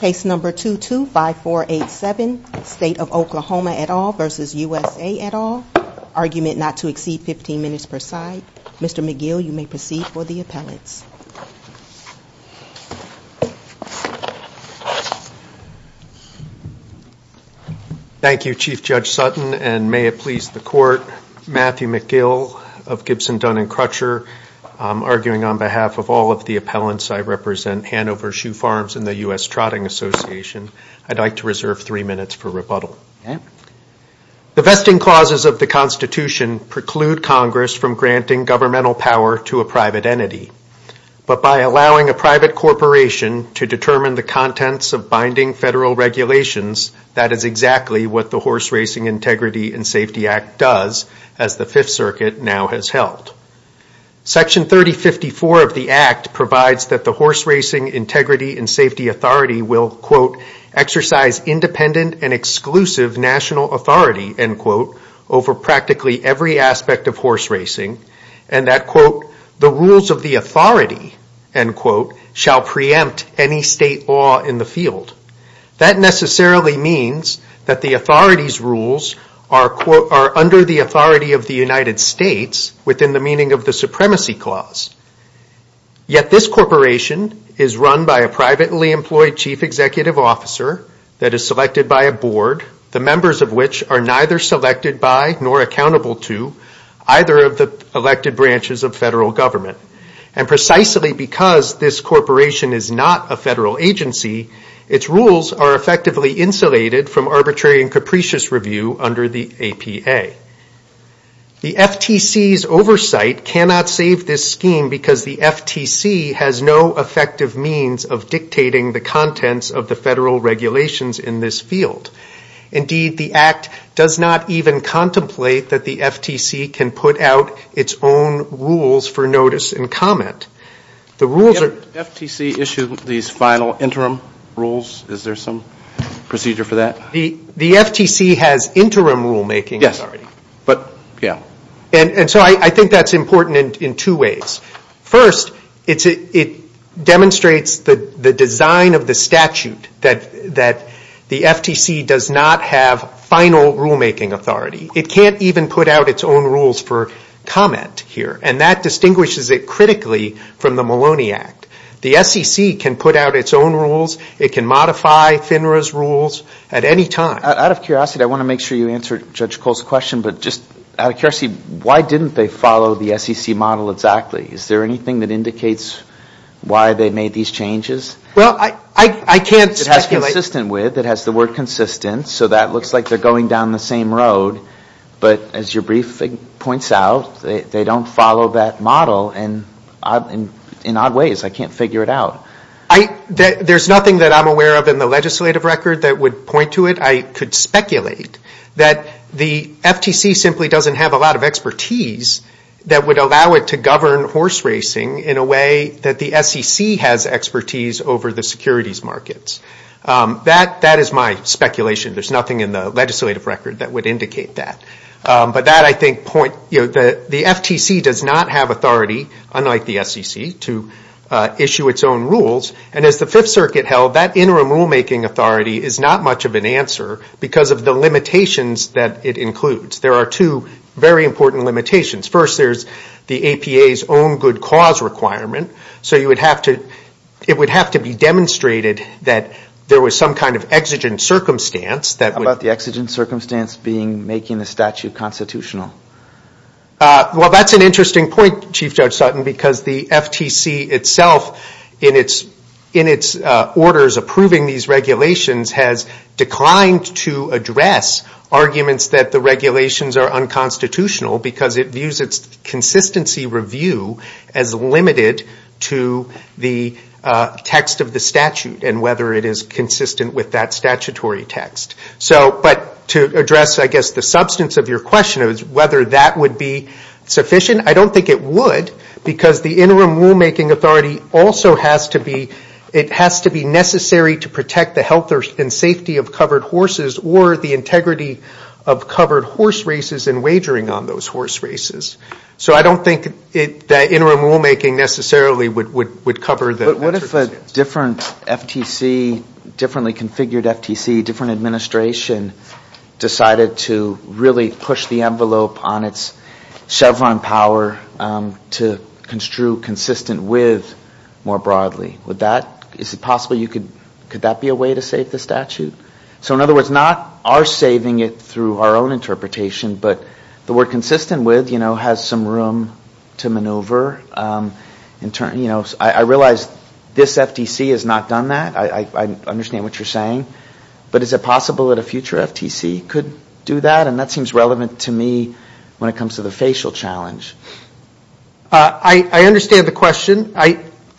Case No. 225487, State of Oklahoma et al. v. USA et al., argument not to exceed 15 minutes per side. Mr. McGill, you may proceed for the appellants. Thank you, Chief Judge Sutton, and may it please the Court, Matthew McGill of Gibson Dunn & Crutcher, arguing on behalf of all of the appellants. As I represent Hanover Shoe Farms and the U.S. Trotting Association, I'd like to reserve three minutes for rebuttal. The vesting clauses of the Constitution preclude Congress from granting governmental power to a private entity. But by allowing a private corporation to determine the contents of binding federal regulations, that is exactly what the Horse Racing Integrity and Safety Act does, as the Fifth Circuit now has held. Section 3054 of the Act provides that the Horse Racing Integrity and Safety Authority will, quote, exercise independent and exclusive national authority, end quote, over practically every aspect of horse racing, and that, quote, the rules of the authority, end quote, shall preempt any state law in the field. That necessarily means that the authority's rules are, quote, are under the authority of the United States within the meaning of the Supremacy Clause. Yet this corporation is run by a privately employed chief executive officer that is selected by a board, the members of which are neither selected by nor accountable to either of the elected branches of federal government. And precisely because this corporation is not a federal agency, its rules are effectively insulated from arbitrary and capricious review under the APA. The FTC's oversight cannot save this scheme because the FTC has no effective means of dictating the contents of the federal regulations in this field. Indeed, the Act does not even contemplate that the FTC can put out its own rules for notice and comment. The rules are... FTC issued these final interim rules. Is there some procedure for that? The FTC has interim rulemaking authority. Yes. But... Yeah. And so I think that's important in two ways. First, it demonstrates the design of the statute that the FTC does not have final rulemaking authority. It can't even put out its own rules for comment here. And that distinguishes it critically from the Maloney Act. The SEC can put out its own rules. It can modify FINRA's rules at any time. Out of curiosity, I want to make sure you answer Judge Cole's question, but just out of curiosity, why didn't they follow the SEC model exactly? Is there anything that indicates why they made these changes? Well, I can't speculate. It has consistent with, it has the word consistent, so that looks like they're going down the same road. But as your briefing points out, they don't follow that model in odd ways. I can't figure it out. There's nothing that I'm aware of in the legislative record that would point to it. I could speculate that the FTC simply doesn't have a lot of expertise that would allow it to govern horse racing in a way that the SEC has expertise over the securities markets. That is my speculation. There's nothing in the legislative record that would indicate that. But that, I think, point, the FTC does not have authority, unlike the SEC, to issue its own rules. And as the Fifth Circuit held, that interim rulemaking authority is not much of an answer because of the limitations that it includes. There are two very important limitations. First there's the APA's own good cause requirement. So you would have to, it would have to be demonstrated that there was some kind of exigent circumstance. How about the exigent circumstance being making the statute constitutional? Well, that's an interesting point, Chief Judge Sutton, because the FTC itself, in its orders approving these regulations, has declined to address arguments that the regulations are unconstitutional because it views its consistency review as limited to the text of the statute and whether it is consistent with that statutory text. But to address, I guess, the substance of your question, whether that would be sufficient, I don't think it would because the interim rulemaking authority also has to be, it has to be necessary to protect the health and safety of covered horses or the integrity of covered horse races and wagering on those horse races. So I don't think that interim rulemaking necessarily would cover that circumstance. But what if a different FTC, differently configured FTC, different administration decided to really push the envelope on its Chevron power to construe consistent with more broadly? Would that, is it possible you could, could that be a way to save the statute? So in other words, not our saving it through our own interpretation, but the word consistent with has some room to maneuver. I realize this FTC has not done that, I understand what you're saying, but is it possible that a future FTC could do that? And that seems relevant to me when it comes to the facial challenge. I understand the question.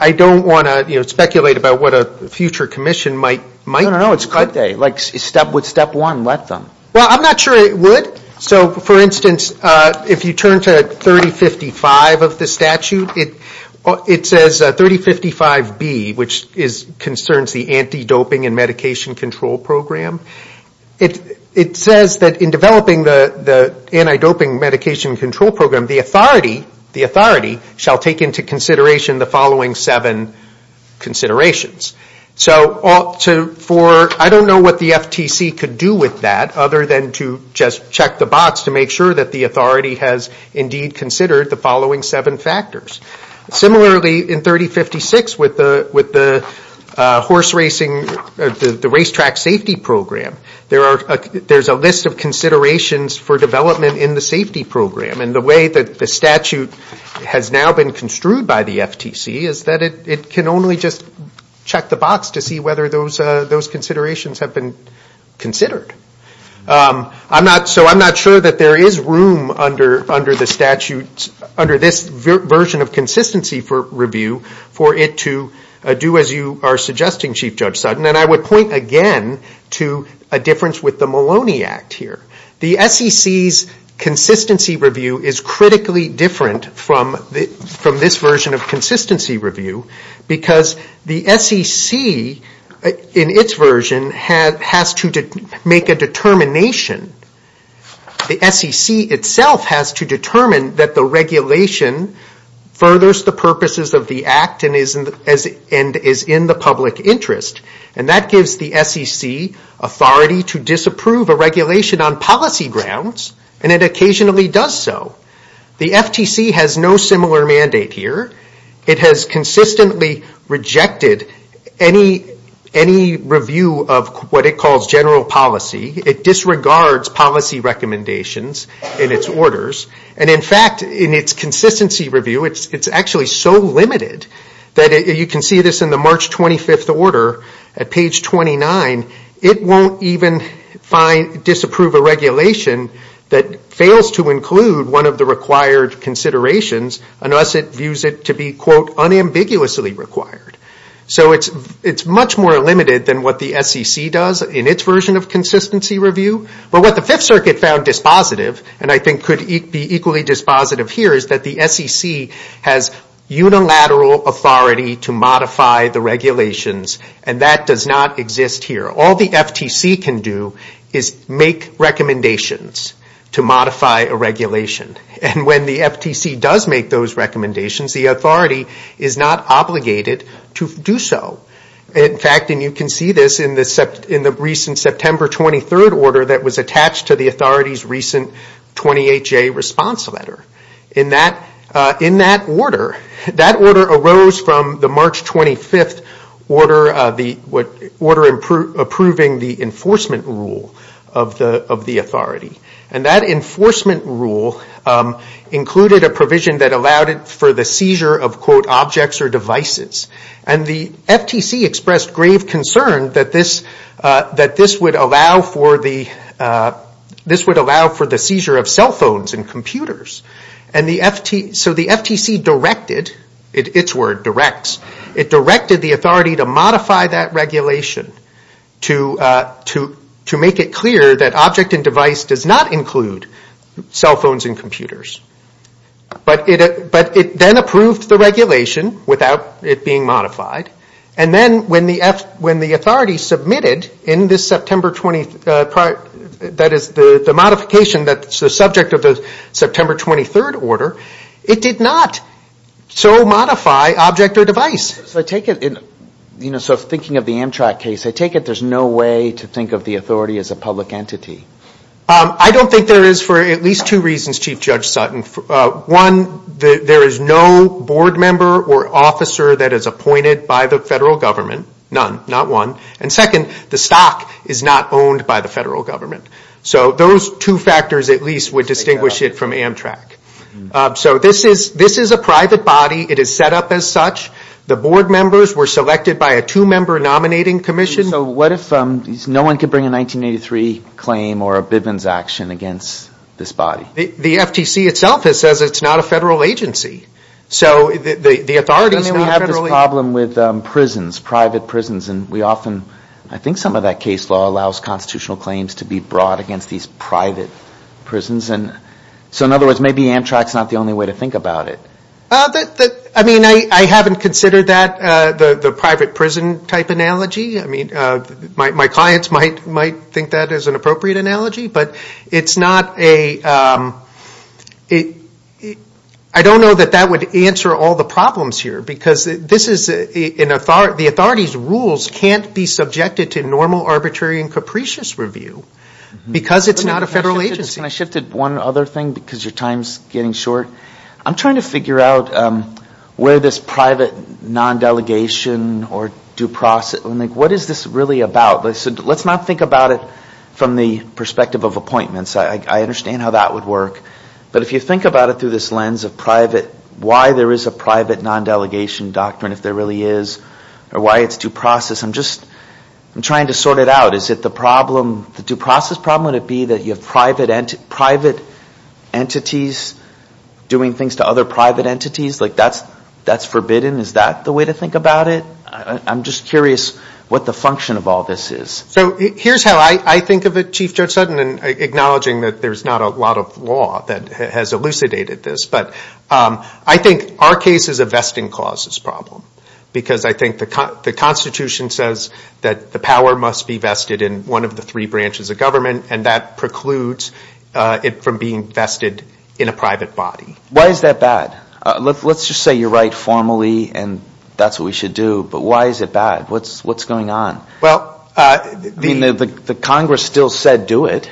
I don't want to speculate about what a future commission might do. No, no, no, it's could they? Like step one, let them. Well, I'm not sure it would. So for instance, if you turn to 3055 of the statute, it says 3055B, which concerns the anti-doping and medication control program. It says that in developing the anti-doping medication control program, the authority shall take into consideration the following seven considerations. So for, I don't know what the FTC could do with that, other than to just check the box to make sure that the authority has indeed considered the following seven factors. Similarly, in 3056 with the horse racing, the racetrack safety program, there's a list of considerations for development in the safety program, and the way that the statute has now been construed by the FTC is that it can only just check the box to see whether those considerations have been considered. So I'm not sure that there is room under the statute, under this version of consistency for review for it to do as you are suggesting, Chief Judge Sutton, and I would point again to a difference with the Maloney Act here. The SEC's consistency review is critically different from this version of consistency review because the SEC, in its version, has to make a determination, the SEC itself has to determine that the regulation furthers the purposes of the act and is in the public policy grounds, and it occasionally does so. The FTC has no similar mandate here. It has consistently rejected any review of what it calls general policy. It disregards policy recommendations in its orders, and in fact, in its consistency review, it's actually so limited that you can see this in the March 25th order at page 29, it won't even disapprove a regulation that fails to include one of the required considerations unless it views it to be, quote, unambiguously required. So it's much more limited than what the SEC does in its version of consistency review, but what the Fifth Circuit found dispositive, and I think could be equally dispositive here, is that the SEC has unilateral authority to modify the regulations, and that does not exist here. All the FTC can do is make recommendations to modify a regulation, and when the FTC does make those recommendations, the authority is not obligated to do so. In fact, and you can see this in the recent September 23rd order that was attached to the authority's recent 28-J response letter. In that order, that order arose from the March 25th order approving the enforcement rule of the authority, and that enforcement rule included a provision that allowed it for the seizure of, quote, objects or devices, and the FTC expressed grave concern that this would allow for the seizure of cell phones and computers, and so the FTC directed, its word, directs, it directed the authority to modify that regulation to make it clear that object and device does not include cell phones and computers, but it then approved the regulation without it being modified, and then when the authority submitted in this September 23rd, that is, the modification that's the subject of the September 23rd order, it did not so modify object or device. So I take it, you know, so thinking of the Amtrak case, I take it there's no way to think of the authority as a public entity. I don't think there is for at least two reasons, Chief Judge Sutton. One, there is no board member or officer that is appointed by the federal government, none, not one, and second, the stock is not owned by the federal government. So those two factors at least would distinguish it from Amtrak. So this is a private body. It is set up as such. The board members were selected by a two-member nominating commission. So what if no one could bring a 1983 claim or a Bivens action against this body? The FTC itself says it's not a federal agency. So the authority is not federally... I mean we have this problem with prisons, private prisons, and we often, I think some of that case law allows constitutional claims to be brought against these private prisons. So in other words, maybe Amtrak is not the only way to think about it. I mean, I haven't considered that the private prison type analogy. I mean, my clients might think that as an appropriate analogy, but it's not a... I don't know that that would answer all the problems here because this is... the authority's rules can't be subjected to normal, arbitrary, and capricious review because it's not a federal agency. I shifted one other thing because your time's getting short. I'm trying to figure out where this private non-delegation or due process... what is this really about? Let's not think about it from the perspective of appointments. I understand how that would work. But if you think about it through this lens of private... why there is a private non-delegation doctrine if there really is, or why it's due process, I'm just... I'm trying to sort it out. Is private entities doing things to other private entities? That's forbidden? Is that the way to think about it? I'm just curious what the function of all this is. So here's how I think of it, Chief Judge Sutton, and acknowledging that there's not a lot of law that has elucidated this. But I think our case is a vesting clauses problem because I think the Constitution says that the power must be vested in one of the three branches of government, and that precludes it from being vested in a private body. Why is that bad? Let's just say you're right formally, and that's what we should do. But why is it bad? What's going on? The Congress still said do it.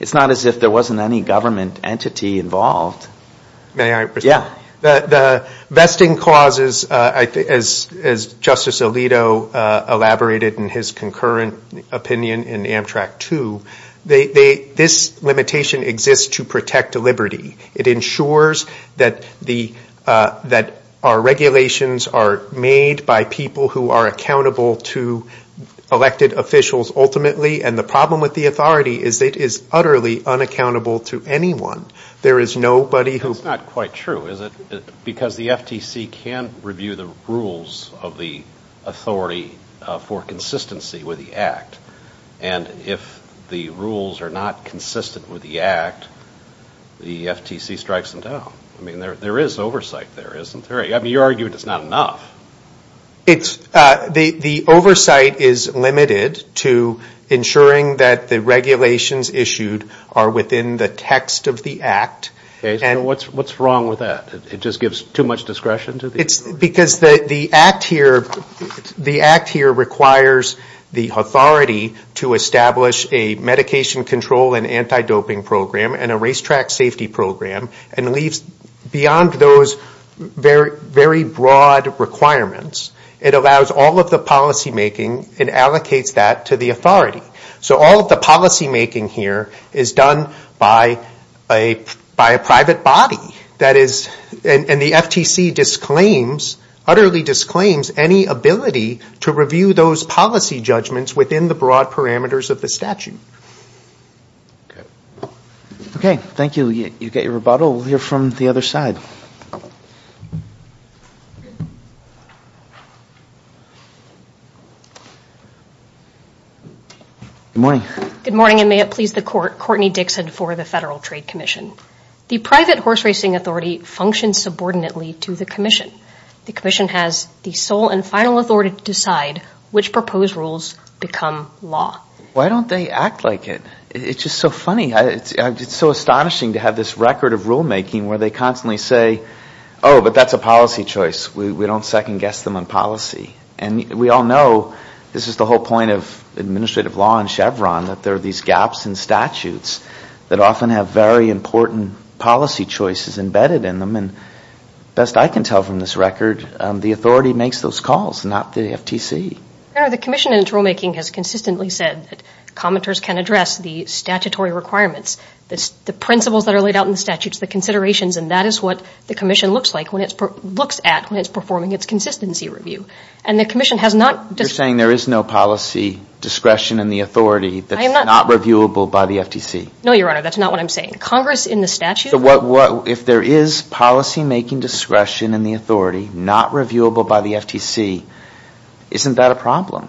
It's not as if there wasn't any government entity involved. May I respond? The vesting clauses, as Justice Alito elaborated in his concurrent opinion in Amtrak 2, are that this limitation exists to protect liberty. It ensures that our regulations are made by people who are accountable to elected officials ultimately, and the problem with the authority is that it is utterly unaccountable to anyone. That's not quite true, is it? Because the FTC can review the rules of the authority for consistency with the Act, and if the rules are not consistent with the Act, the FTC strikes them down. I mean, there is oversight there, isn't there? I mean, you argued it's not enough. The oversight is limited to ensuring that the regulations issued are within the text of the Act. What's wrong with that? It just gives too much discretion to the... Because the Act here requires the authority to establish a medication control and anti-doping program and a racetrack safety program and leaves beyond those very broad requirements. It allows all of the policymaking and allocates that to the authority. So all of the policymaking here is done by a private body. That is, and the FTC utterly disclaims any ability to review those policy judgments within the broad parameters of the statute. Okay. Thank you. You get your rebuttal. We'll hear from the other side. Good morning. Good morning, and may it please the Court. Courtney Dixon for the Federal Trade Commission. The private horse racing authority functions subordinately to the Commission. The Commission has the sole and final authority to decide which proposed rules become law. Why don't they act like it? It's just so funny. It's so astonishing to have this record of rulemaking where they constantly say, oh, but that's a policy choice. We don't second guess them on policy. And we all know, this is the whole point of administrative law in policy choices embedded in them, and best I can tell from this record, the authority makes those calls, not the FTC. The Commission in its rulemaking has consistently said that commenters can address the statutory requirements, the principles that are laid out in the statutes, the considerations, and that is what the Commission looks like when it's performing its consistency review. You're saying there is no policy discretion in the authority that's not reviewable by the FTC? No, Your Honor, that's not what I'm saying. Congress in the statute... If there is policymaking discretion in the authority not reviewable by the FTC, isn't that a problem?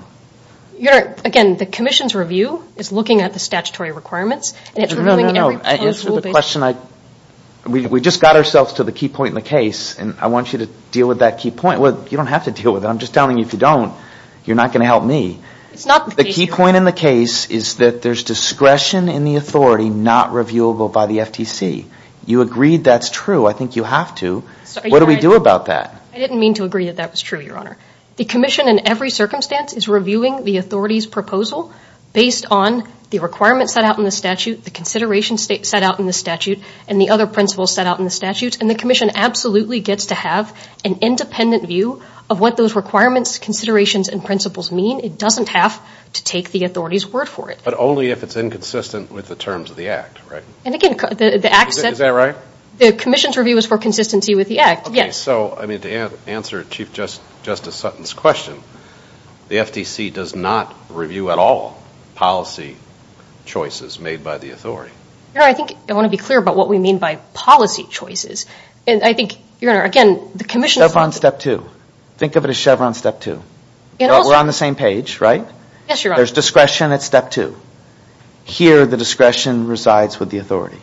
Again, the Commission's review is looking at the statutory requirements and it's reviewing every proposed rule based... We just got ourselves to the key point in the case, and I want you to deal with that key point. You don't have to deal with it. I'm just telling you if you don't, you're not going to help me. The key point in the case is that there's discretion in the authority not reviewable by the FTC. You agreed that's true. I think you have to. What do we do about that? I didn't mean to agree that that was true, Your Honor. The Commission in every circumstance is reviewing the authority's proposal based on the requirements set out in the statute, the considerations set out in the statute, and the other principles set out in the statute, and the Commission absolutely gets to have an independent view of what those requirements, considerations, and principles mean. It doesn't have to take the authority's word for it. But only if it's inconsistent with the terms of the Act, right? And again, the Act says... Is that right? The Commission's review is for consistency with the Act, yes. So to answer Chief Justice Sutton's question, the FTC does not review at all policy choices made by the authority. Your Honor, I think I want to be clear about what we mean by policy choices. I think, Your Honor, again, the Commission... Think of it as Chevron step two. We're on the same page, right? Yes, Your Honor. There's discretion at step two. Here, the discretion resides with the authority.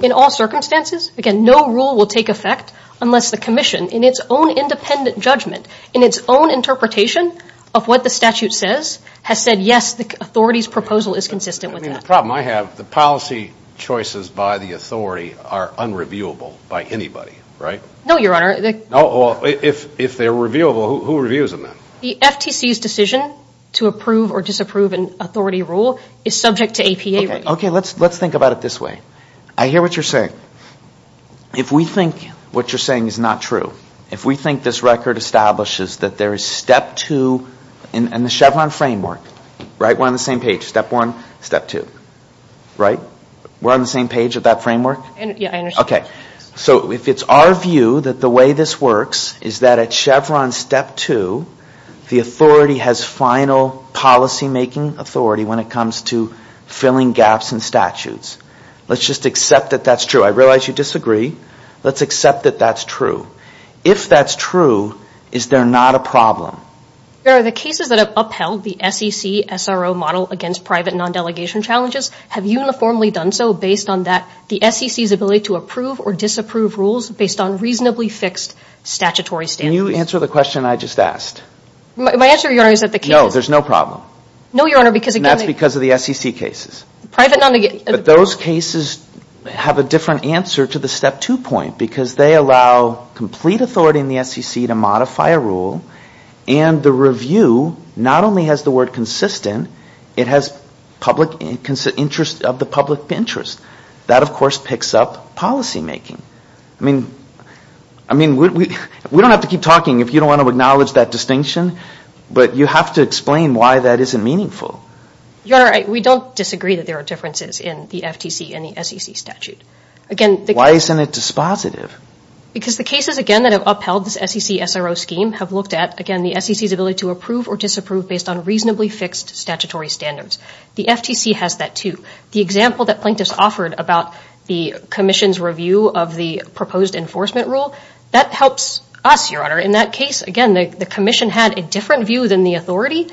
In all circumstances, again, no rule will take effect unless the Commission, in its own independent judgment, in its own interpretation of what the statute says, has said, yes, the authority's proposal is consistent with that. I mean, the problem I have, the policy choices by the authority are unreviewable by anybody, right? No, Your Honor. If they're reviewable, who reviews them then? The FTC's decision to approve or disapprove an authority rule is subject to APA review. Okay, let's think about it this way. I hear what you're saying. If we think what you're saying is not true, if we think this record establishes that there is step two in the Chevron framework, right? We're on the same page, step one, step two, right? We're on the same page of that framework? Yes, I understand. Okay, so if it's our view that the way this works is that at Chevron step two, the authority has final policymaking authority when it comes to filling gaps in statutes. Let's just accept that that's true. I realize you disagree. Let's accept that that's true. If that's true, is there not a problem? Your Honor, the cases that have upheld the SEC SRO model against private non-delegation challenges have uniformly done so based on that, the SEC's ability to approve or disapprove rules based on reasonably fixed statutory standards. Can you answer the question I just asked? My answer, Your Honor, is that the cases... No, there's no problem. No, Your Honor, because again... And that's because of the SEC cases. Private non-delegation... But those cases have a different answer to the step two point because they allow complete authority in the SEC to modify a rule and the review not only has the word consistent, it has public interest of the public interest. That, of course, picks up policymaking. I mean, we don't have to keep talking if you don't want to acknowledge that distinction, but you have to explain why that isn't meaningful. Your Honor, we don't disagree that there are differences in the FTC and the SEC statute. Again... Why isn't it dispositive? Because the cases, again, that have upheld this SEC SRO scheme have looked at, again, the SEC's ability to approve or disapprove based on reasonably fixed statutory standards. The FTC has that, too. The example that plaintiffs offered about the commission's review of the proposed enforcement rule, that helps us, Your Honor. In that case, again, the commission had a different view than the authority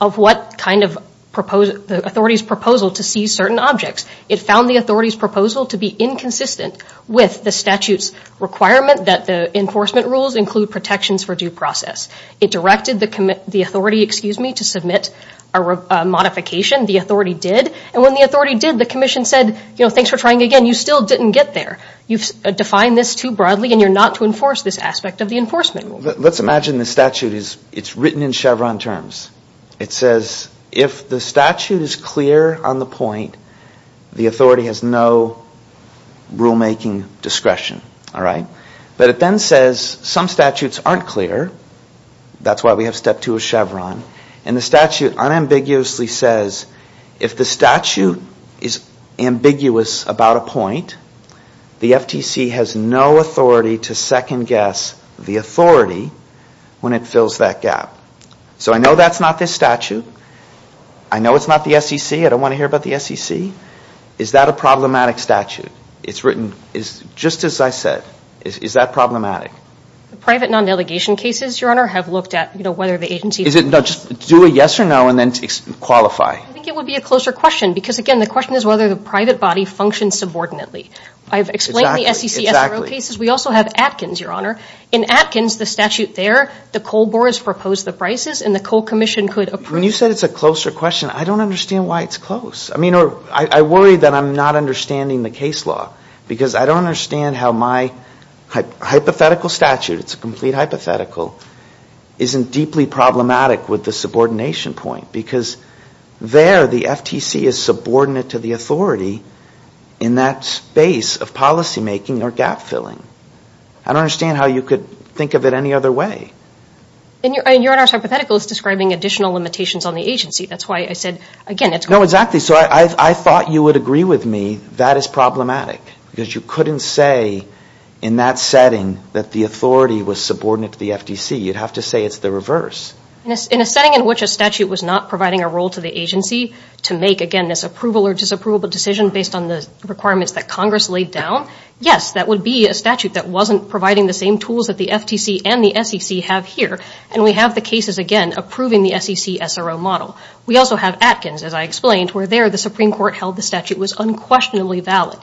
of what kind of authority's proposal to seize certain objects. It found the authority's proposal to be inconsistent with the statute's requirement that the enforcement rules include protections for due process. It directed the authority, excuse me, to submit a modification. The authority did. And when the authority did, the commission said, you know, thanks for trying again. You still didn't get there. You've defined this too broadly and you're not to enforce this aspect of the enforcement rule. Let's imagine the statute is written in Chevron terms. It says, if the statute is clear on the point, the authority has no rulemaking discretion. All right? But it then says some statutes aren't clear. That's why we have step two of Chevron. And the statute unambiguously says, if the statute is ambiguous about a point, the FTC has no authority to second guess the authority when it fills that gap. So I know that's not this statute. I know it's not the SEC. I don't want to hear about the SEC. Is that a problematic statute? It's written just as I said. Is that problematic? The private non-delegation cases, Your Honor, have looked at whether the agency... Is it... No, just do a yes or no and then qualify. I think it would be a closer question because, again, the question is whether the private body functions subordinately. I've explained the SEC... Exactly. ...SRO cases. We also have Atkins, Your Honor. In Atkins, the statute there, the coal board has proposed the prices and the coal commission could approve... When you said it's a closer question, I don't understand why it's close. I mean, I worry that I'm not understanding the case law because I don't understand how my hypothetical statute, it's a complete hypothetical, isn't deeply problematic with the subordination point because there the FTC is subordinate to the authority in that space of policy making or gap filling. I don't understand how you could think of it any other way. And Your Honor's hypothetical is describing additional limitations on the agency. That's why I said, again, it's... No, exactly. So I thought you would agree with me that is problematic because you couldn't say in that setting that the authority was subordinate to the FTC. You'd have to say it's the reverse. In a setting in which a statute was not providing a role to the agency to make, again, this approval or disapproval decision based on the requirements that Congress laid down, yes, that would be a statute that wasn't providing the same tools that the FTC and the SEC have here and we have the cases, again, approving the SEC SRO model. We also have Atkins, as I explained, where there the Supreme Court held the statute was unquestionably valid.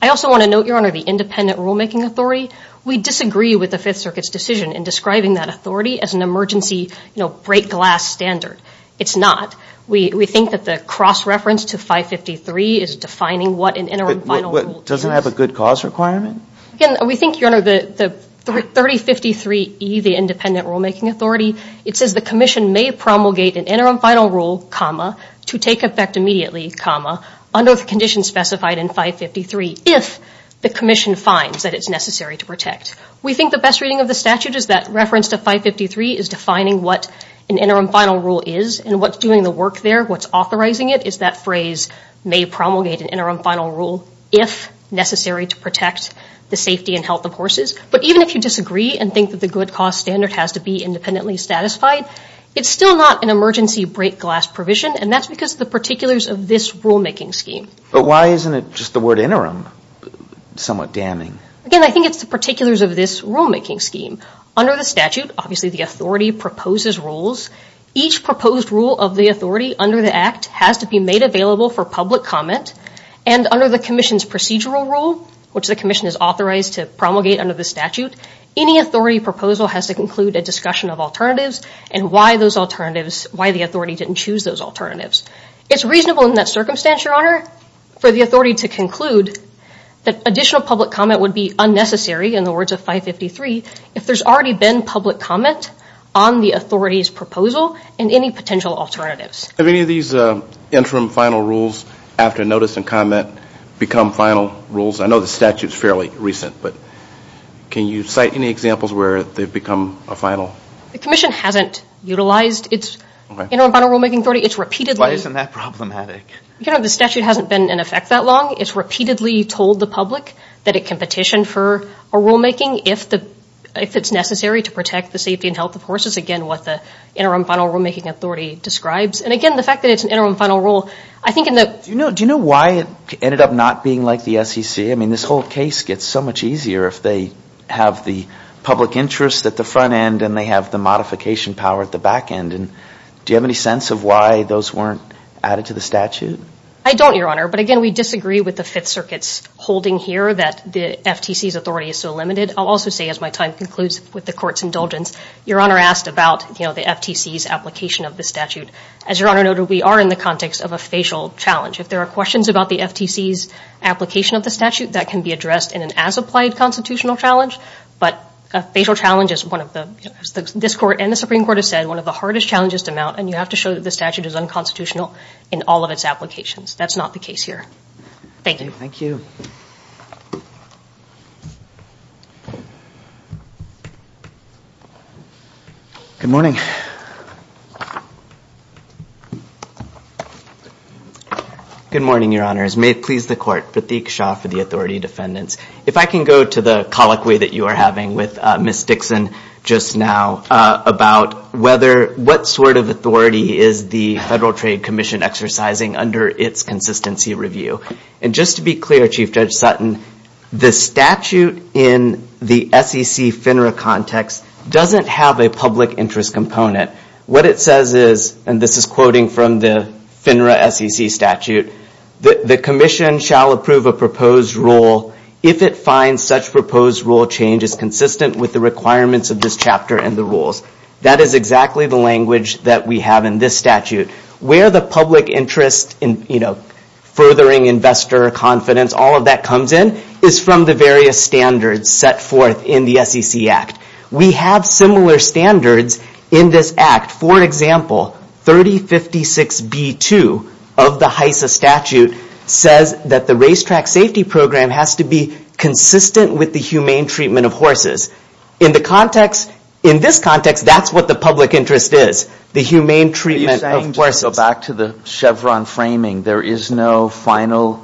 I also want to note, Your Honor, the independent rulemaking authority. We disagree with the Fifth Circuit's decision in describing that authority as an emergency, you know, break glass standard. It's not. We think that the cross-reference to 553 is defining what an interim final rule is. Doesn't it have a good cause requirement? Again, we think, Your Honor, the 3053E, the independent rulemaking authority, it says the commission may promulgate an interim final rule, comma, to take effect immediately, comma, under the conditions specified in 553 if the commission finds that it's necessary to protect. We think the best reading of the statute is that reference to 553 is defining what an interim final rule is and what's doing the work there, what's authorizing it, is that phrase may promulgate an interim final rule if necessary to protect the safety and health of horses. But even if you disagree and think that the good cause standard has to be independently satisfied, it's still not an emergency break glass provision, and that's because the particulars of this rulemaking scheme. But why isn't it just the word interim somewhat damning? Again, I think it's the particulars of this rulemaking scheme. Under the statute, obviously the authority proposes rules. Each proposed rule of the authority under the Act has to be made available for public comment, and under the commission's procedural rule, which the commission is authorized to those alternatives, why the authority didn't choose those alternatives. It's reasonable in that circumstance, your honor, for the authority to conclude that additional public comment would be unnecessary in the words of 553 if there's already been public comment on the authority's proposal and any potential alternatives. Have any of these interim final rules after notice and comment become final rules? I know the statute's fairly recent, but can you cite any examples where they've become a final? The commission hasn't utilized its interim final rulemaking authority. It's repeatedly... Why isn't that problematic? Your honor, the statute hasn't been in effect that long. It's repeatedly told the public that it can petition for a rulemaking if it's necessary to protect the safety and health of horses, again, what the interim final rulemaking authority describes. And again, the fact that it's an interim final rule, I think in the... Do you know why it ended up not being like the SEC? I mean, this whole case gets so much easier if they have the public interest at the front end and they have the modification power at the back end. And do you have any sense of why those weren't added to the statute? I don't, your honor. But again, we disagree with the Fifth Circuit's holding here that the FTC's authority is so limited. I'll also say, as my time concludes with the court's indulgence, your honor asked about the FTC's application of the statute. As your honor noted, we are in the context of a facial challenge. If there are questions about the FTC's application of the statute, that can be addressed in an as-applied constitutional challenge. But a facial challenge is one of the... This court and the Supreme Court have said one of the hardest challenges to mount, and you have to show that the statute is unconstitutional in all of its applications. That's not the case here. Thank you. Thank you. Good morning. Good morning, your honors. May it please the court. Pratik Shah for the authority defendants. If I can go to the colloquy that you are having with Ms. Dixon just now about what sort of authority is the Federal Trade Commission exercising under its consistency review. Just to be clear, Chief Judge Sutton, the statute in the SEC FINRA context doesn't have a public interest component. What it says is, and this is quoting from the FINRA SEC statute, the commission shall approve a proposed rule if it finds such proposed rule change is consistent with the requirements of this chapter and the rules. That is exactly the language that we have in this statute. Where the public interest in furthering investor confidence, all of that comes in is from the various standards set forth in the SEC Act. We have similar standards in this Act. For example, 3056B2 of the HISA statute says that the racetrack safety program has to be consistent with the humane treatment of horses. In the context, in this context, that's what the public interest is. The humane treatment of horses. Back to the Chevron framing, there is no final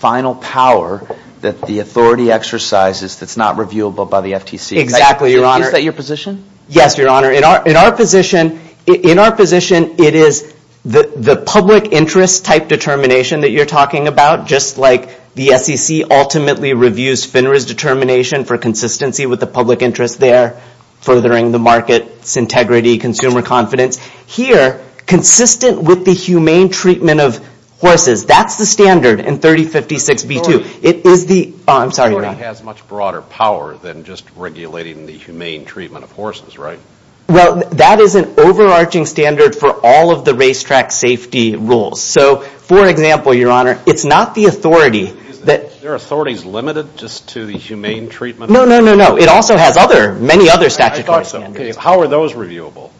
power that the authority exercises that's not reviewable by the FTC. Exactly, your honor. Is that your position? Yes, your honor. In our position, it is the public interest type determination that you're talking about, just like the SEC ultimately reviews FINRA's determination for consistency with the public interest there, furthering the market's integrity, consumer confidence. Here, consistent with the humane treatment of horses, that's the standard in 3056B2. It is the... I'm sorry, your honor. It has much broader power than just regulating the humane treatment of horses, right? Well, that is an overarching standard for all of the racetrack safety rules. For example, your honor, it's not the authority that... Their authority is limited just to the humane treatment? No, no, no, no. It also has other, many other statutory standards. I thought so. Okay. How are those reviewable?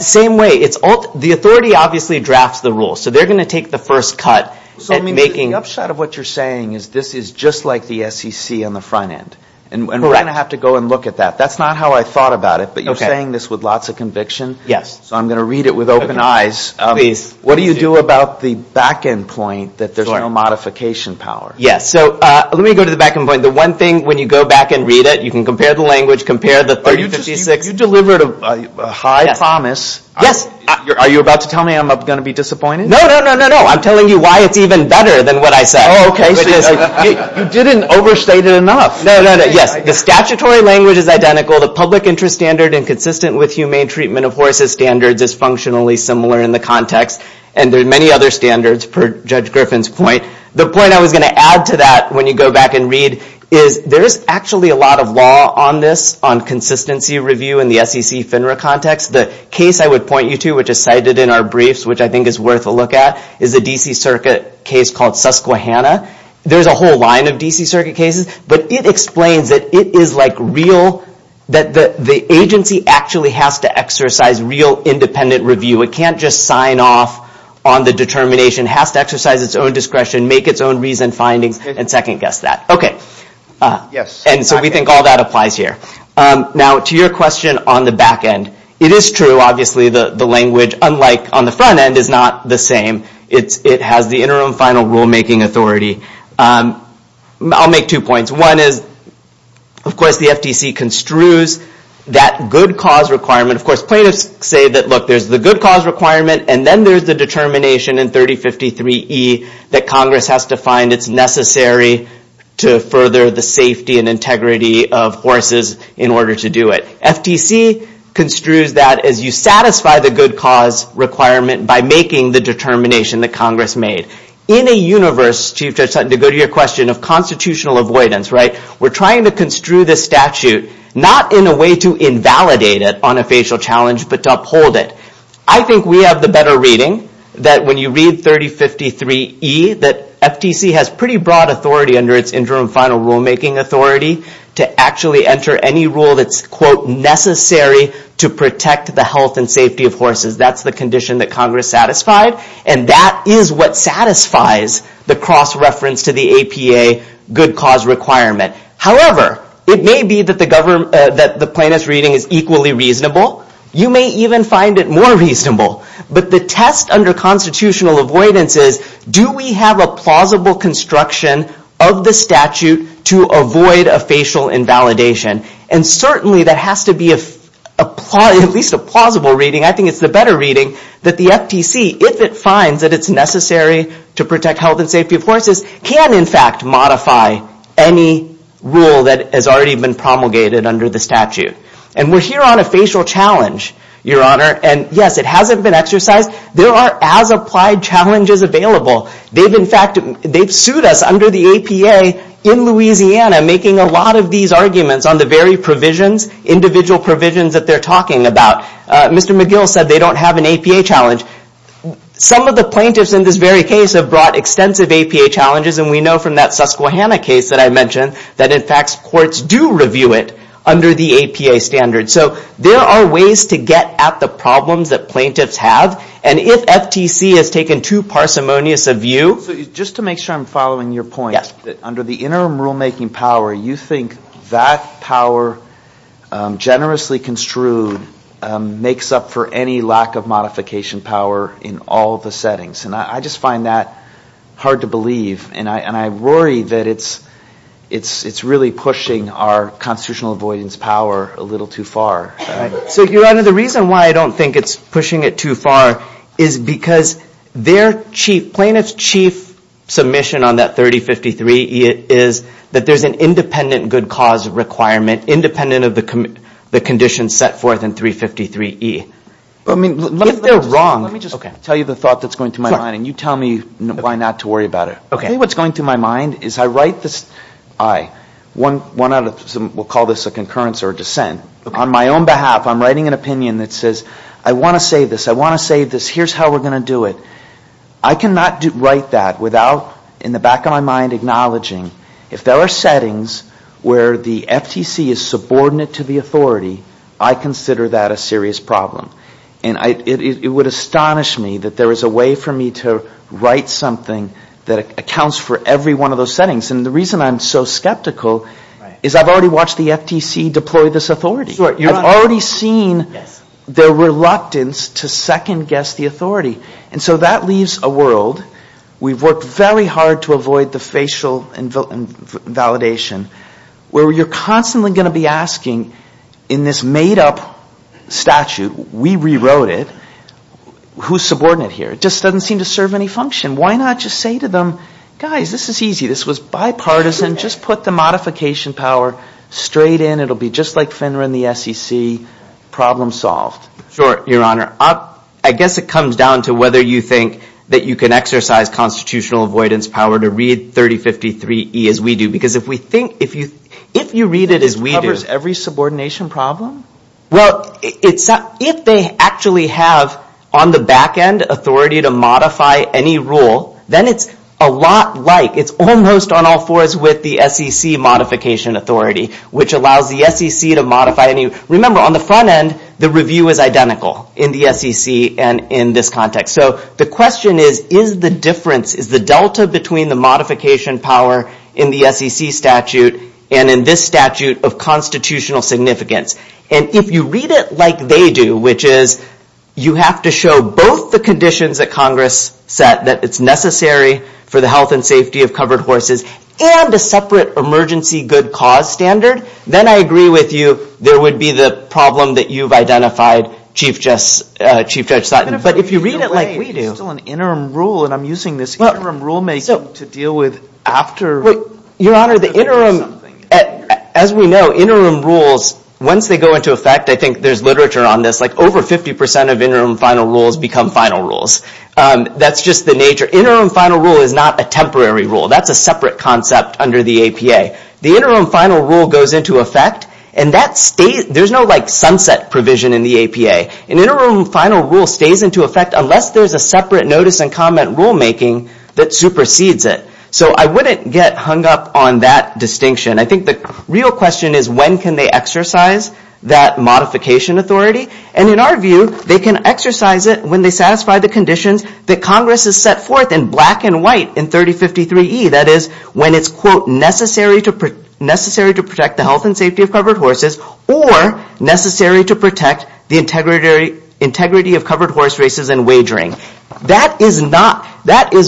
Same way. The authority obviously drafts the rules, so they're going to take the first cut at making... Correct. And we're going to have to go and look at that. That's not how I thought about it, but you're saying this with lots of conviction. Yes. So I'm going to read it with open eyes. Please. What do you do about the back-end point that there's no modification power? Yes. So let me go to the back-end point. The one thing, when you go back and read it, you can compare the language, compare the 3056... Are you just... You delivered a high promise. Yes. Yes. Are you about to tell me I'm going to be disappointed? No, no, no, no, no. I'm telling you why it's even better than what I said. Oh, okay. You didn't overstate it enough. No, no, no. Yes. The statutory language is identical. The public interest standard inconsistent with humane treatment of horses standards is functionally similar in the context. And there are many other standards, per Judge Griffin's point. The point I was going to add to that, when you go back and read, is there's actually a lot of law on this, on consistency review in the SEC FINRA context. The case I would point you to, which is cited in our briefs, which I think is worth a look at, is the D.C. Circuit case called Susquehanna. There's a whole line of D.C. Circuit cases, but it explains that it is like real... That the agency actually has to exercise real independent review. It can't just sign off on the determination. Has to exercise its own discretion, make its own reasoned findings, and second guess that. Okay. Yes. And so we think all that applies here. Now, to your question on the back end, it is true, obviously, the language, unlike on the front end, is not the same. It has the interim final rulemaking authority. I'll make two points. One is, of course, the FTC construes that good cause requirement. Of course, plaintiffs say that, look, there's the good cause requirement, and then there's the determination in 3053E that Congress has to find it's necessary to further the safety and integrity of horses in order to do it. FTC construes that as you satisfy the good cause requirement by making the determination that Congress made. In a universe, Chief Judge Sutton, to go to your question of constitutional avoidance, we're trying to construe this statute not in a way to invalidate it on a facial challenge, but to uphold it. I think we have the better reading that when you read 3053E, that FTC has pretty broad authority under its interim final rulemaking authority to actually enter any rule that's necessary to protect the health and safety of horses. That's the condition that Congress satisfied, and that is what satisfies the cross-reference to the APA good cause requirement. However, it may be that the plaintiff's reading is equally reasonable. You may even find it more reasonable, but the test under constitutional avoidance is, do we have a plausible construction of the statute to avoid a facial invalidation? Certainly, that has to be at least a plausible reading. I think it's the better reading that the FTC, if it finds that it's necessary to protect health and safety of horses, can in fact modify any rule that has already been promulgated under the statute. We're here on a facial challenge, Your Honor, and yes, it hasn't been exercised. There are as applied challenges available. They've sued us under the APA in Louisiana making a lot of these arguments on the very provisions, individual provisions that they're talking about. Mr. McGill said they don't have an APA challenge. Some of the plaintiffs in this very case have brought extensive APA challenges, and we know from that Susquehanna case that I mentioned that in fact courts do review it under the APA standards. So, there are ways to get at the problems that plaintiffs have, and if FTC has taken too parsimonious a view. Just to make sure I'm following your point, under the interim rulemaking power, you think that power, generously construed, makes up for any lack of modification power in all the settings. And I just find that hard to believe, and I worry that it's really pushing our constitutional avoidance power a little too far. So, Your Honor, the reason why I don't think it's pushing it too far is because their chief, submission on that 3053E is that there's an independent good cause requirement, independent of the conditions set forth in 353E. If they're wrong, let me just tell you the thought that's going through my mind, and you tell me why not to worry about it. I think what's going through my mind is I write this, I, one out of, we'll call this a concurrence or a dissent, on my own behalf, I'm writing an opinion that says, I want to say this, I want to say this, here's how we're going to do it. I cannot write that without, in the back of my mind, acknowledging, if there are settings where the FTC is subordinate to the authority, I consider that a serious problem. And it would astonish me that there is a way for me to write something that accounts for every one of those settings. And the reason I'm so skeptical is I've already watched the FTC deploy this authority. I've already seen their reluctance to second-guess the authority. And so that leaves a world, we've worked very hard to avoid the facial invalidation, where you're constantly going to be asking, in this made-up statute, we rewrote it, who's subordinate here? It just doesn't seem to serve any function. Why not just say to them, guys, this is easy, this was bipartisan, just put the modification power straight in, it'll be just like FINRA and the SEC, problem solved. Sure, Your Honor. I guess it comes down to whether you think that you can exercise constitutional avoidance power to read 3053E as we do. Because if we think, if you read it as we do. It covers every subordination problem? Well, if they actually have, on the back end, authority to modify any rule, then it's a lot like, it's almost on all fours with the SEC modification authority, which allows the SEC to modify any rule. Remember, on the front end, the review is identical in the SEC and in this context. So the question is, is the difference, is the delta between the modification power in the SEC statute and in this statute of constitutional significance? And if you read it like they do, which is, you have to show both the conditions that Congress set that it's necessary for the health and safety of covered horses, and a separate emergency good cause standard, then I agree with you. There would be the problem that you've identified, Chief Judge Sutton. But if you read it like we do. But if we read it late, there's still an interim rule, and I'm using this interim rulemaking to deal with after- Your Honor, the interim, as we know, interim rules, once they go into effect, I think there's literature on this, like over 50% of interim final rules become final rules. That's just the nature. Interim final rule is not a temporary rule. That's a separate concept under the APA. The interim final rule goes into effect, and that stays, there's no sunset provision in the APA. An interim final rule stays into effect unless there's a separate notice and comment rulemaking that supersedes it. So I wouldn't get hung up on that distinction. I think the real question is, when can they exercise that modification authority? And in our view, they can exercise it when they satisfy the conditions that Congress has set forth in black and white in 3053E. That is, when it's, quote, necessary to protect the health and safety of covered horses, or necessary to protect the integrity of covered horse races and wagering. That is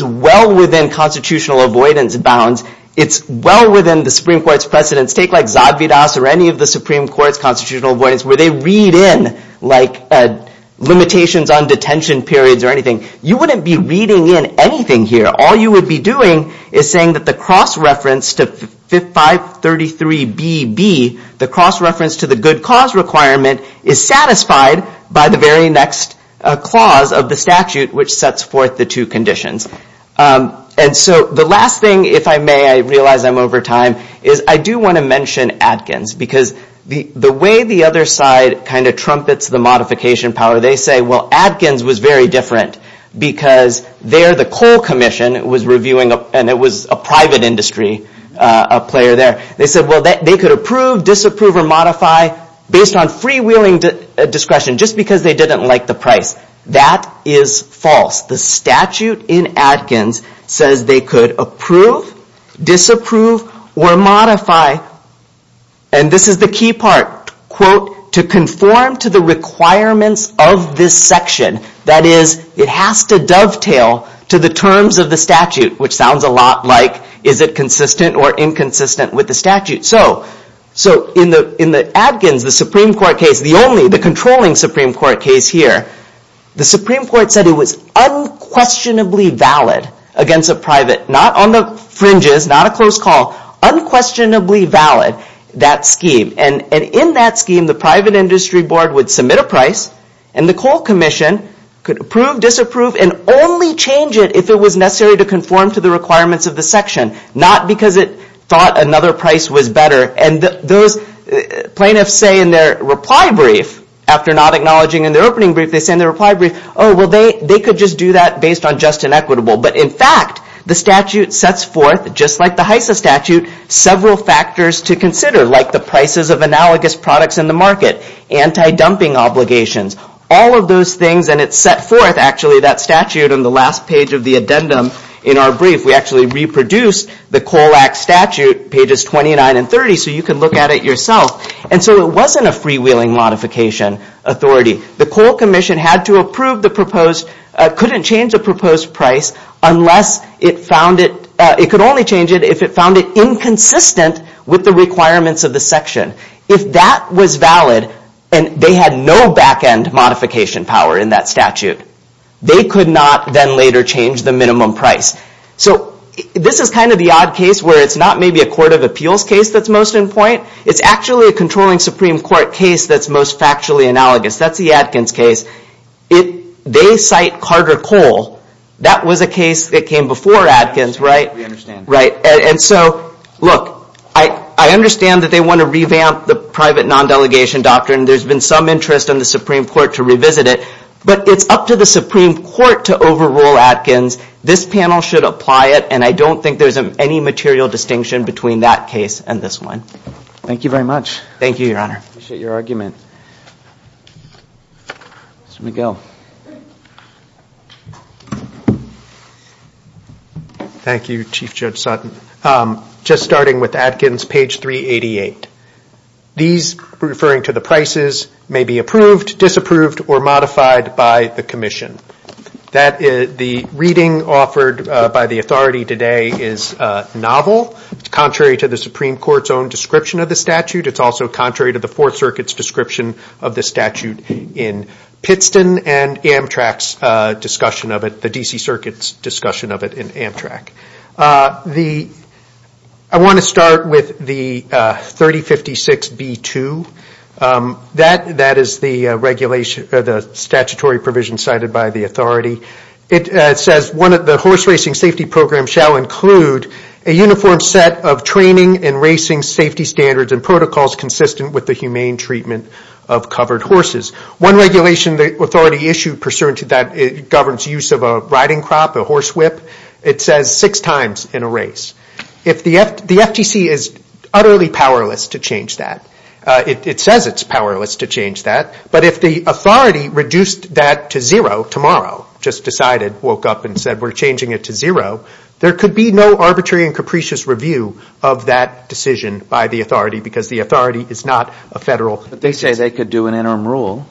well within constitutional avoidance bounds. It's well within the Supreme Court's precedents. Take like Zadvydas or any of the Supreme Court's constitutional avoidance where they read in limitations on detention periods or anything. You wouldn't be reading in anything here. All you would be doing is saying that the cross-reference to 533BB, the cross-reference to the good cause requirement, is satisfied by the very next clause of the statute which sets forth the two conditions. And so the last thing, if I may, I realize I'm over time, is I do want to mention Adkins because the way the other side kind of trumpets the modification power, they say, well, Adkins was very different because there the coal commission was reviewing, and it was a private industry, a player there, they said, well, they could approve, disapprove, or modify based on freewheeling discretion just because they didn't like the price. That is false. The statute in Adkins says they could approve, disapprove, or modify, and this is the key part, quote, to conform to the requirements of this section. That is, it has to dovetail to the terms of the statute, which sounds a lot like is it consistent or inconsistent with the statute. So in the Adkins, the Supreme Court case, the only, the controlling Supreme Court case here, the Supreme Court said it was unquestionably valid against a private, not on the fringes, not a close call, unquestionably valid, that scheme, and in that scheme, the private industry board would submit a price, and the coal commission could approve, disapprove, and only change it if it was necessary to conform to the requirements of the section, not because it thought another price was better, and those plaintiffs say in their reply brief, after not acknowledging in their opening brief, they say in their reply brief, oh, well, they could just do that based on just and equitable, but in fact, the statute sets forth, just like the HISA statute, several factors to consider, like the prices of analogous products in the market, anti-dumping obligations, all of those things, and it set forth, actually, that statute on the last page of the addendum in our brief. We actually reproduced the Coal Act statute, pages 29 and 30, so you can look at it yourself, and so it wasn't a freewheeling modification authority. The coal commission had to approve the proposed, couldn't change the proposed price unless it found it, it could only change it if it found it inconsistent with the requirements of the section. If that was valid, and they had no back-end modification power in that statute, they could not then later change the minimum price. So this is kind of the odd case where it's not maybe a court of appeals case that's most in point, it's actually a controlling Supreme Court case that's most factually analogous. That's the Adkins case. If they cite Carter Coal, that was a case that came before Adkins, right? We understand. Right. And so, look, I understand that they want to revamp the private non-delegation doctrine. There's been some interest in the Supreme Court to revisit it, but it's up to the Supreme Court to overrule Adkins. This panel should apply it, and I don't think there's any material distinction between that case and this one. Thank you very much. Thank you, Your Honor. I appreciate your argument. Mr. McGill. Thank you, Chief Judge Sutton. Just starting with Adkins, page 388. These referring to the prices may be approved, disapproved, or modified by the commission. The reading offered by the authority today is novel. It's contrary to the Supreme Court's own description of the statute. It's also contrary to the Fourth Circuit's description of the statute in Pittston and Amtrak's discussion of it, the D.C. Circuit's discussion of it in Amtrak. I want to start with the 3056B2. That is the statutory provision cited by the authority. It says, the horse racing safety program shall include a uniform set of training and racing safety standards and protocols consistent with the humane treatment of covered horses. One regulation the authority issued pursuant to that governs use of a riding crop, a horse whip. It says six times in a race. The FTC is utterly powerless to change that. It says it's powerless to change that. But if the authority reduced that to zero tomorrow, just decided, woke up and said we're arbitrary and capricious review of that decision by the authority because the authority is not a federal. But they say they could do an interim rule.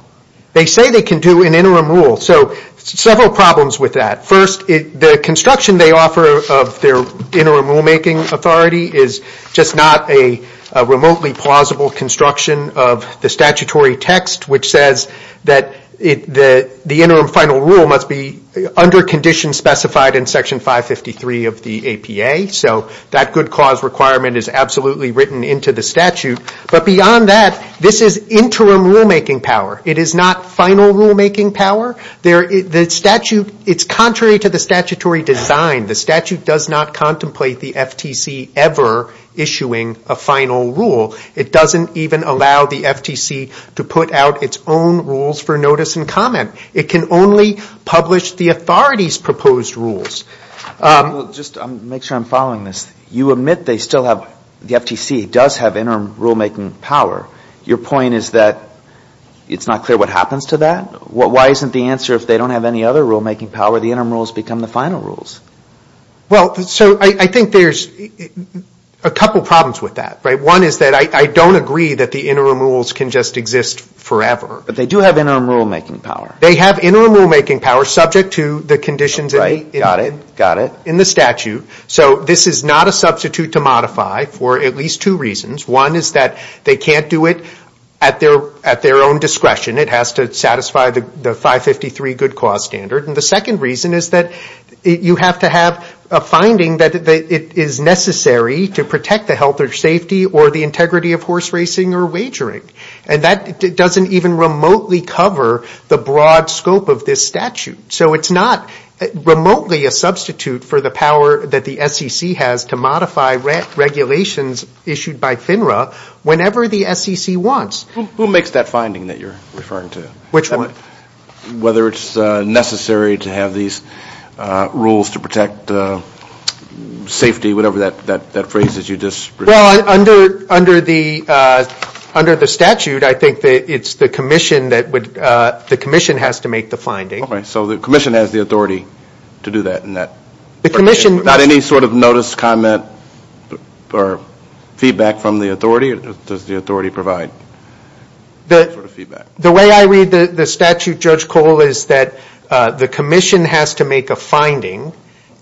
They say they can do an interim rule. So several problems with that. First, the construction they offer of their interim rulemaking authority is just not a remotely plausible construction of the statutory text which says that the interim final rule must be under conditions specified in section 553 of the APA. So that good cause requirement is absolutely written into the statute. But beyond that, this is interim rulemaking power. It is not final rulemaking power. It's contrary to the statutory design. The statute does not contemplate the FTC ever issuing a final rule. It doesn't even allow the FTC to put out its own rules for notice and comment. It can only publish the authority's proposed rules. Just to make sure I'm following this, you admit they still have, the FTC does have interim rulemaking power. Your point is that it's not clear what happens to that? Why isn't the answer if they don't have any other rulemaking power, the interim rules become the final rules? Well, so I think there's a couple problems with that. One is that I don't agree that the interim rules can just exist forever. But they do have interim rulemaking power. They have interim rulemaking power subject to the conditions in the statute. So this is not a substitute to modify for at least two reasons. One is that they can't do it at their own discretion. It has to satisfy the 553 good cause standard. And the second reason is that you have to have a finding that it is necessary to protect the health or safety or the integrity of horse racing or wagering. And that doesn't even remotely cover the broad scope of this statute. So it's not remotely a substitute for the power that the SEC has to modify regulations issued by FINRA whenever the SEC wants. Who makes that finding that you're referring to? Which one? Whether it's necessary to have these rules to protect safety, whatever that phrase is you just referred to. Well, under the statute, I think it's the commission that would, the commission has to make the finding. All right. So the commission has the authority to do that? The commission... Not any sort of notice, comment, or feedback from the authority? Does the authority provide that sort of feedback? The way I read the statute, Judge Cole, is that the commission has to make a finding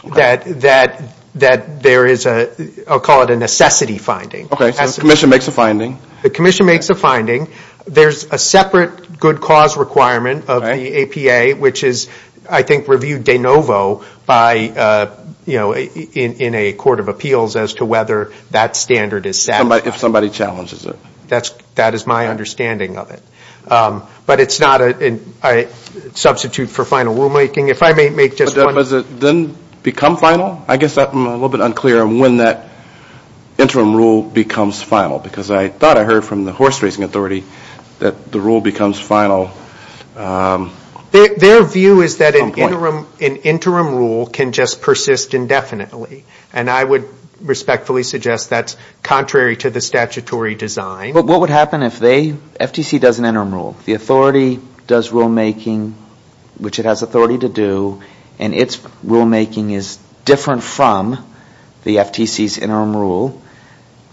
that there is a, I'll call it a necessity finding. Okay. So the commission makes a finding. The commission makes a finding. There's a separate good cause requirement of the APA, which is, I think, reviewed de novo by, you know, in a court of appeals as to whether that standard is set. If somebody challenges it. That is my understanding of it. But it's not a substitute for final rulemaking. If I may make just one... But does it then become final? I guess I'm a little bit unclear on when that interim rule becomes final. Because I thought I heard from the horse racing authority that the rule becomes final... Their view is that an interim rule can just persist indefinitely. And I would respectfully suggest that's contrary to the statutory design. What would happen if they, FTC does an interim rule. The authority does rulemaking, which it has authority to do, and its rulemaking is different from the FTC's interim rule.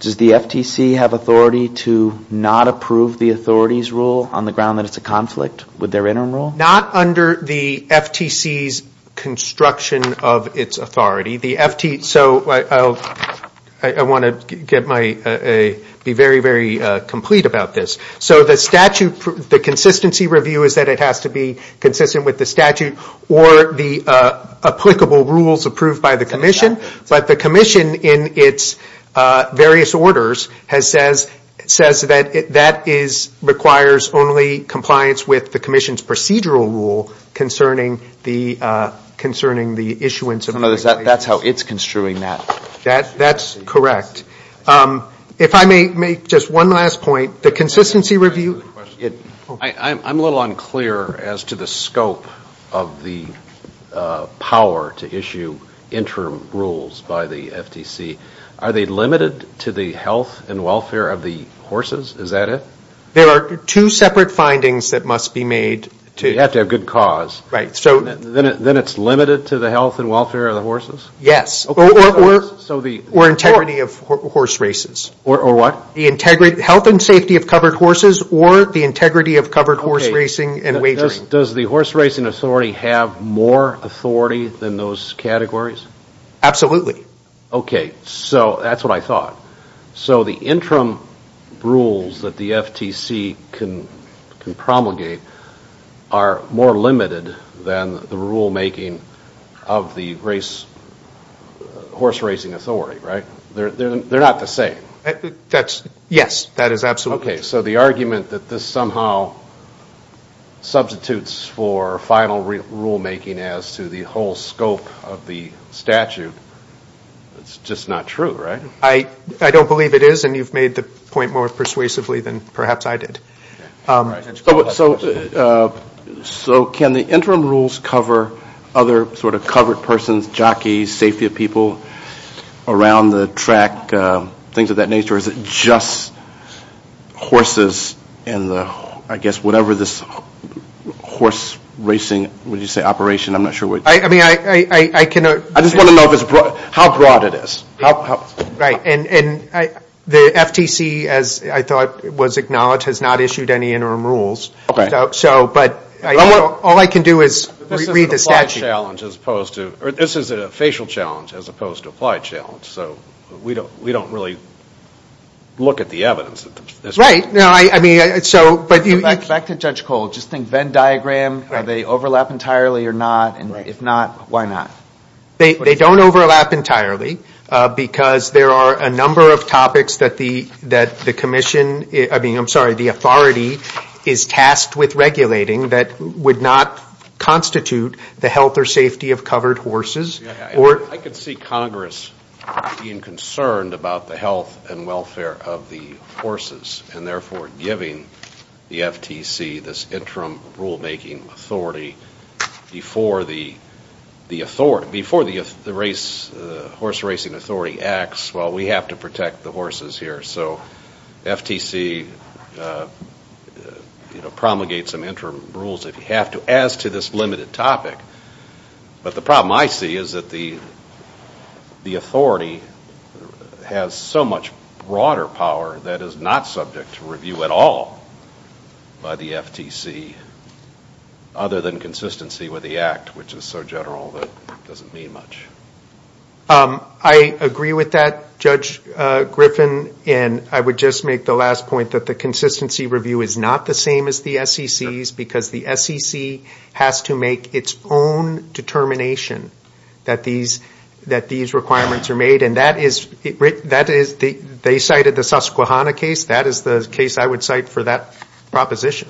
Does the FTC have authority to not approve the authority's rule on the ground that it's a conflict with their interim rule? Not under the FTC's construction of its authority. So I want to be very, very complete about this. So the consistency review is that it has to be consistent with the statute or the applicable rules approved by the commission. But the commission in its various orders says that that requires only compliance with the commission's procedural rule concerning the issuance of regulation. That's how it's construing that. That's correct. If I may make just one last point, the consistency review... I'm a little unclear as to the scope of the power to issue interim rules by the FTC. Are they limited to the health and welfare of the horses? Is that it? There are two separate findings that must be made to... You have to have good cause. Then it's limited to the health and welfare of the horses? Yes. Or integrity of horse races. Or what? The health and safety of covered horses or the integrity of covered horse racing and wagering. Does the horse racing authority have more authority than those categories? Absolutely. Okay. So that's what I thought. So the interim rules that the FTC can promulgate are more limited than the rulemaking of the horse racing authority, right? They're not the same. Yes. That is absolutely true. Okay. So the argument that this somehow substitutes for final rulemaking as to the whole scope of the statute, it's just not true, right? I don't believe it is, and you've made the point more persuasively than perhaps I did. So can the interim rules cover other sort of covered persons, jockeys, safety of people around the track, things of that nature, or is it just horses and the, I guess, whatever this horse racing, what did you say, operation? I'm not sure what... I mean, I cannot... I just want to know how broad it is. Right. And the FTC, as I thought was acknowledged, has not issued any interim rules. But all I can do is read the statute. This is a facial challenge as opposed to applied challenge, so we don't really look at the evidence at this point. Right. No, I mean, so... Back to Judge Cole. Just think Venn diagram, are they overlap entirely or not, and if not, why not? They don't overlap entirely because there are a number of topics that the commission, I mean, I'm sorry, the authority is tasked with regulating that would not constitute the health or safety of covered horses. I could see Congress being concerned about the health and welfare of the horses and therefore giving the FTC this interim rule-making authority before the horse racing authority acts, well, we have to protect the horses here. So FTC promulgates some interim rules if you have to, as to this limited topic. But the problem I see is that the authority has so much broader power that is not subject to review at all by the FTC, other than consistency with the act, which is so general that it doesn't mean much. I agree with that, Judge Griffin, and I would just make the last point that the consistency review is not the same as the SEC's because the SEC has to make its own determination that these requirements are made, and that is... They cited the Susquehanna case, that is the case I would cite for that proposition.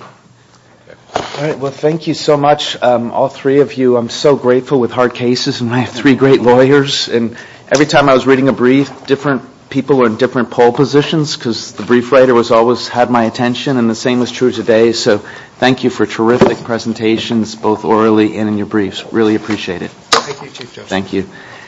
All right, well, thank you so much, all three of you. I'm so grateful with hard cases, and I have three great lawyers, and every time I was reading a brief, different people were in different poll positions because the brief writer always had my attention, and the same is true today. So thank you for terrific presentations, both orally and in your briefs. Really appreciate it. Thank you, Chief Justice.